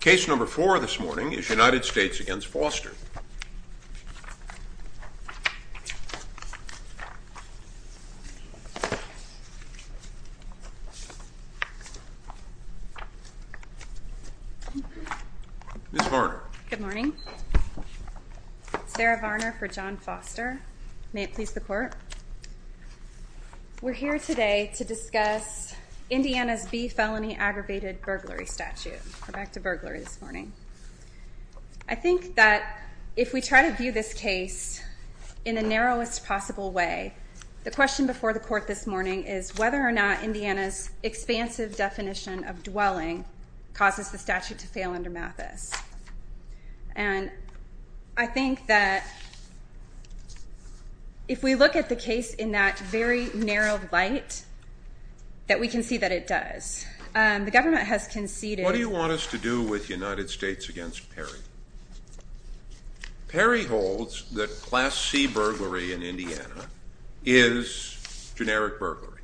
Case number four this morning is United States v. Foster. Ms. Varner. Good morning. Sarah Varner for John Foster. May it please the Court. We're here today to discuss Indiana's B felony aggravated burglary statute. We're back to burglary this morning. I think that if we try to view this case in the narrowest possible way, the question before the Court this morning is whether or not Indiana's expansive definition of dwelling causes the statute to fail under Mathis. And I think that if we look at the case in that very narrow light, that we can see that it does. The government has conceded. What do you want us to do with United States against Perry? Perry holds that Class C burglary in Indiana is generic burglary.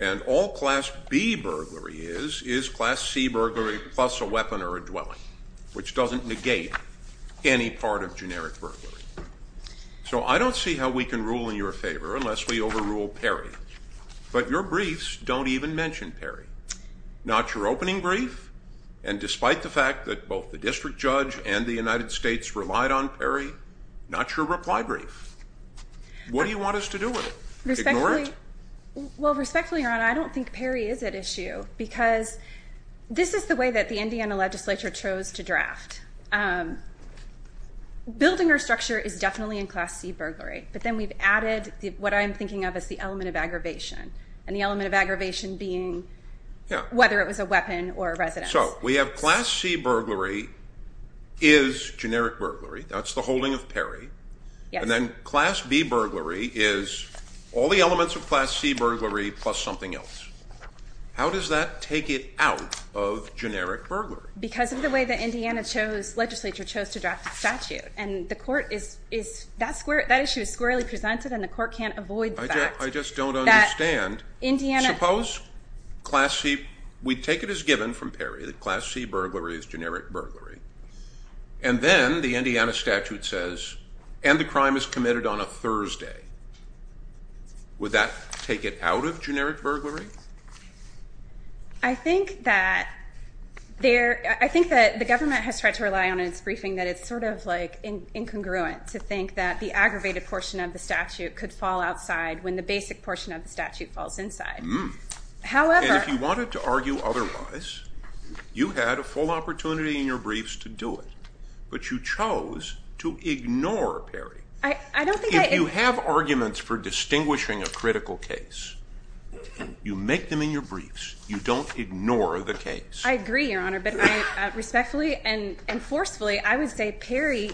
And all Class B burglary is, is Class C burglary plus a weapon or a dwelling, which doesn't negate any part of generic burglary. So I don't see how we can rule in your favor unless we overrule Perry. But your briefs don't even mention Perry. Not your opening brief. And despite the fact that both the district judge and the United States relied on Perry, not your reply brief. What do you want us to do with it? Ignore it? Well, respectfully, Your Honor, I don't think Perry is at issue because this is the way that the Indiana legislature chose to draft. Building our structure is definitely in Class C burglary. But then we've added what I'm thinking of as the element of aggravation. And the element of aggravation being whether it was a weapon or a residence. So we have Class C burglary is generic burglary. That's the holding of Perry. And then Class B burglary is all the elements of Class C burglary plus something else. How does that take it out of generic burglary? Because of the way that Indiana chose, legislature chose to draft a statute. And the court is, is that square, that issue is squarely presented and the court can't avoid that. I just don't understand. Suppose Class C, we take it as given from Perry that Class C burglary is generic burglary. And then the Indiana statute says, and the crime is committed on a Thursday. Would that take it out of generic burglary? I think that there, I think that the government has tried to rely on its briefing that it's sort of like incongruent to think that the And if you wanted to argue otherwise, you had a full opportunity in your briefs to do it. But you chose to ignore Perry. If you have arguments for distinguishing a critical case, you make them in your briefs. You don't ignore the case. I agree, Your Honor, but I respectfully and forcefully, I would say Perry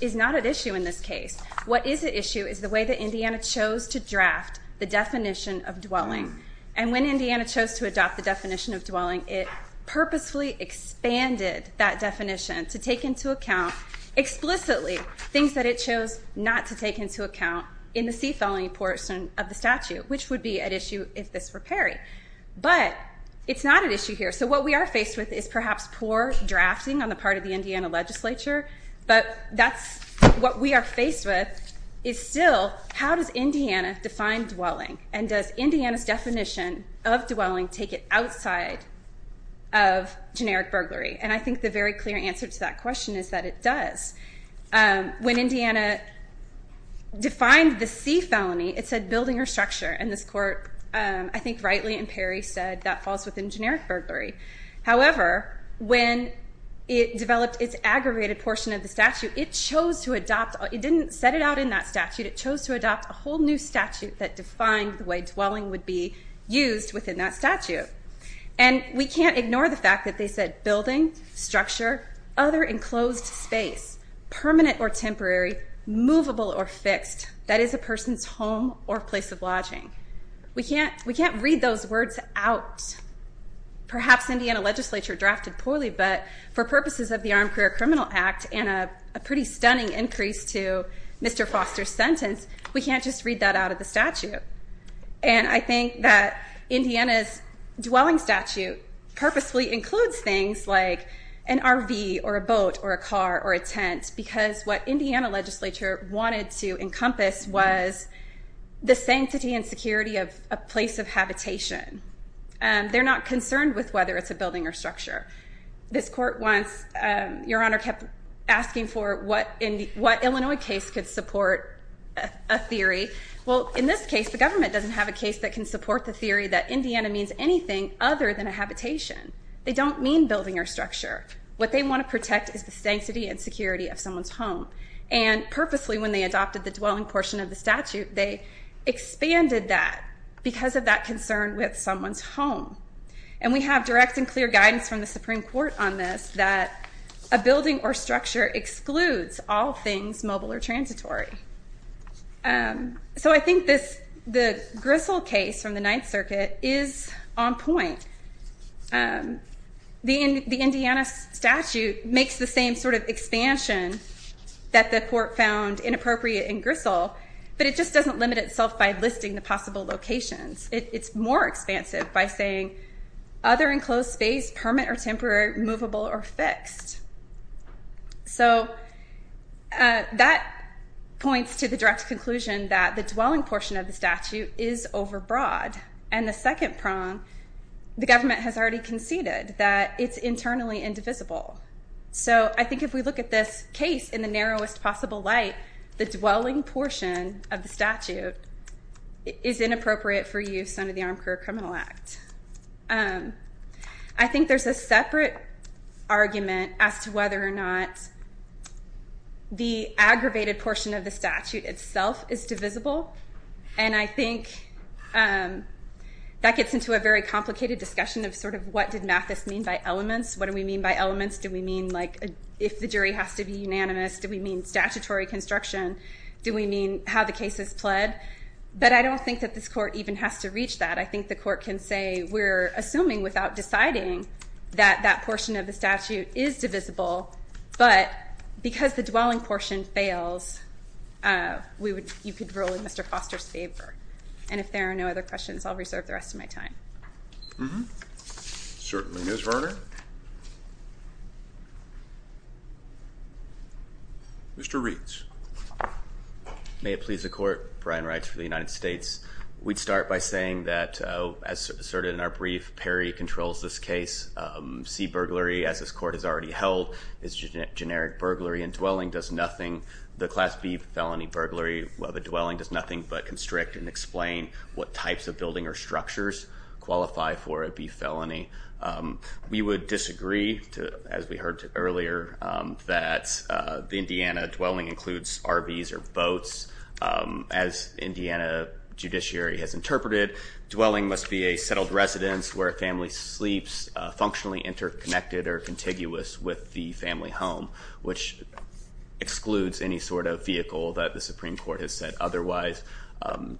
is not an issue in this case. What is an issue is the way that Indiana chose to draft the definition of dwelling. And when Indiana chose to adopt the definition of dwelling, it purposefully expanded that definition to take into account explicitly things that it chose not to take into account in the C felony portion of the statute, which would be an issue if this were Perry. But it's not an issue here. So what we are faced with is perhaps poor drafting on the part of the Indiana legislature. But that's what we are faced with is still how does Indiana define dwelling? And does Indiana's definition of dwelling take it outside of generic burglary? And I think the very clear answer to that question is that it does. When Indiana defined the C felony, it said building or structure. And this court, I think rightly in Perry, said that falls within generic burglary. However, when it developed its aggravated portion of the statute, it chose to adopt, it didn't set it out in that statute, it chose to adopt a whole new statute that defined the way dwelling would be used within that statute. And we can't ignore the fact that they said building, structure, other enclosed space, permanent or temporary, movable or fixed, that is a person's home or place of lodging. We can't read those words out. Perhaps Indiana legislature drafted poorly, but for purposes of the Armed Career Criminal Act and a pretty stunning increase to Mr. Foster's sentence, we can't just read that out of the statute. And I think that Indiana's dwelling statute purposefully includes things like an RV or a boat or a car or a tent because what Indiana legislature wanted to encompass was the sanctity and security of a place of habitation. They're not concerned with whether it's a building or structure. This court once, Your Honor, kept asking for what Illinois case could support a theory. Well, in this case, the government doesn't have a case that can support the theory that Indiana means anything other than a habitation. They don't mean building or structure. What they want to protect is the sanctity and security of someone's home. And purposely, when they adopted the dwelling portion of the statute, they expanded that because of that concern with someone's home. And we have direct and clear guidance from the Supreme Court on this, that a building or structure excludes all things mobile or transitory. So I think the Gristle case from the Ninth Circuit is on point. The Indiana statute makes the same sort of expansion that the court found inappropriate in Gristle, but it just doesn't limit itself by listing the possible locations. It's more expansive by saying, other enclosed space, permanent or temporary, movable or fixed. So that points to the direct conclusion that the dwelling portion of the statute is overbroad. And the second prong, the government has already conceded that it's internally indivisible. So I think if we look at this case in the narrowest possible light, the dwelling portion of the statute is inappropriate for use under the Armed Career Criminal Act. I think there's a separate argument as to whether or not the aggravated portion of the statute itself is divisible. And I think that gets into a very complicated discussion of sort of what did Mathis mean by elements? What do we mean by elements? Do we mean like if the jury has to be unanimous? Do we mean statutory construction? Do we mean how the case is pled? But I don't think that this court even has to reach that. I think the court can say we're assuming without deciding that that portion of the statute is divisible, but because the dwelling portion fails, you could rule in Mr. Foster's favor. And if there are no other questions, I'll reserve the rest of my time. Certainly, Ms. Varner. Mr. Reeds. May it please the court, Brian Wright for the United States. We'd start by saying that, as asserted in our brief, Perry controls this case. C, burglary, as this court has already held, is generic burglary, and dwelling does nothing. The class B felony burglary of a dwelling does nothing but constrict and explain what types of building or structures qualify for a B felony. We would disagree, as we heard earlier, that the Indiana dwelling includes RVs or boats. As Indiana judiciary has interpreted, dwelling must be a settled residence where a family sleeps, functionally interconnected or contiguous with the family home, which excludes any sort of vehicle that the Supreme Court has said otherwise.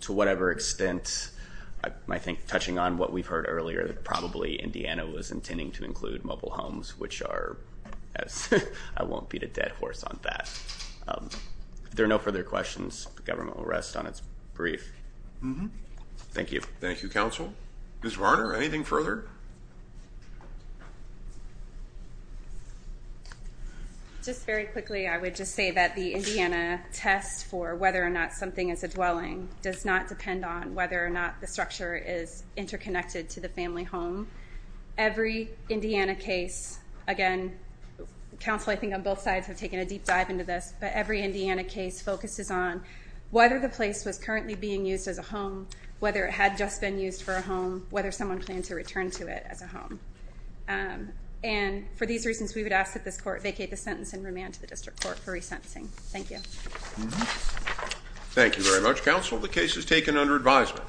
To whatever extent, I think touching on what we've heard earlier, probably Indiana was intending to include mobile homes, which are, I won't beat a dead horse on that. If there are no further questions, the government will rest on its brief. Thank you. Thank you, counsel. Ms. Varner, anything further? Just very quickly, I would just say that the Indiana test for whether or not something is a dwelling does not depend on whether or not the structure is interconnected to the family home. Every Indiana case, again, counsel, I think on both sides have taken a deep dive into this, but every Indiana case focuses on whether the place was currently being used as a home, whether it had just been used for a home, whether someone planned to return to it as a home. And for these reasons, we would ask that this court vacate the sentence and remand to the district court for resentencing. Thank you. Thank you very much, counsel. The case is taken under advisement.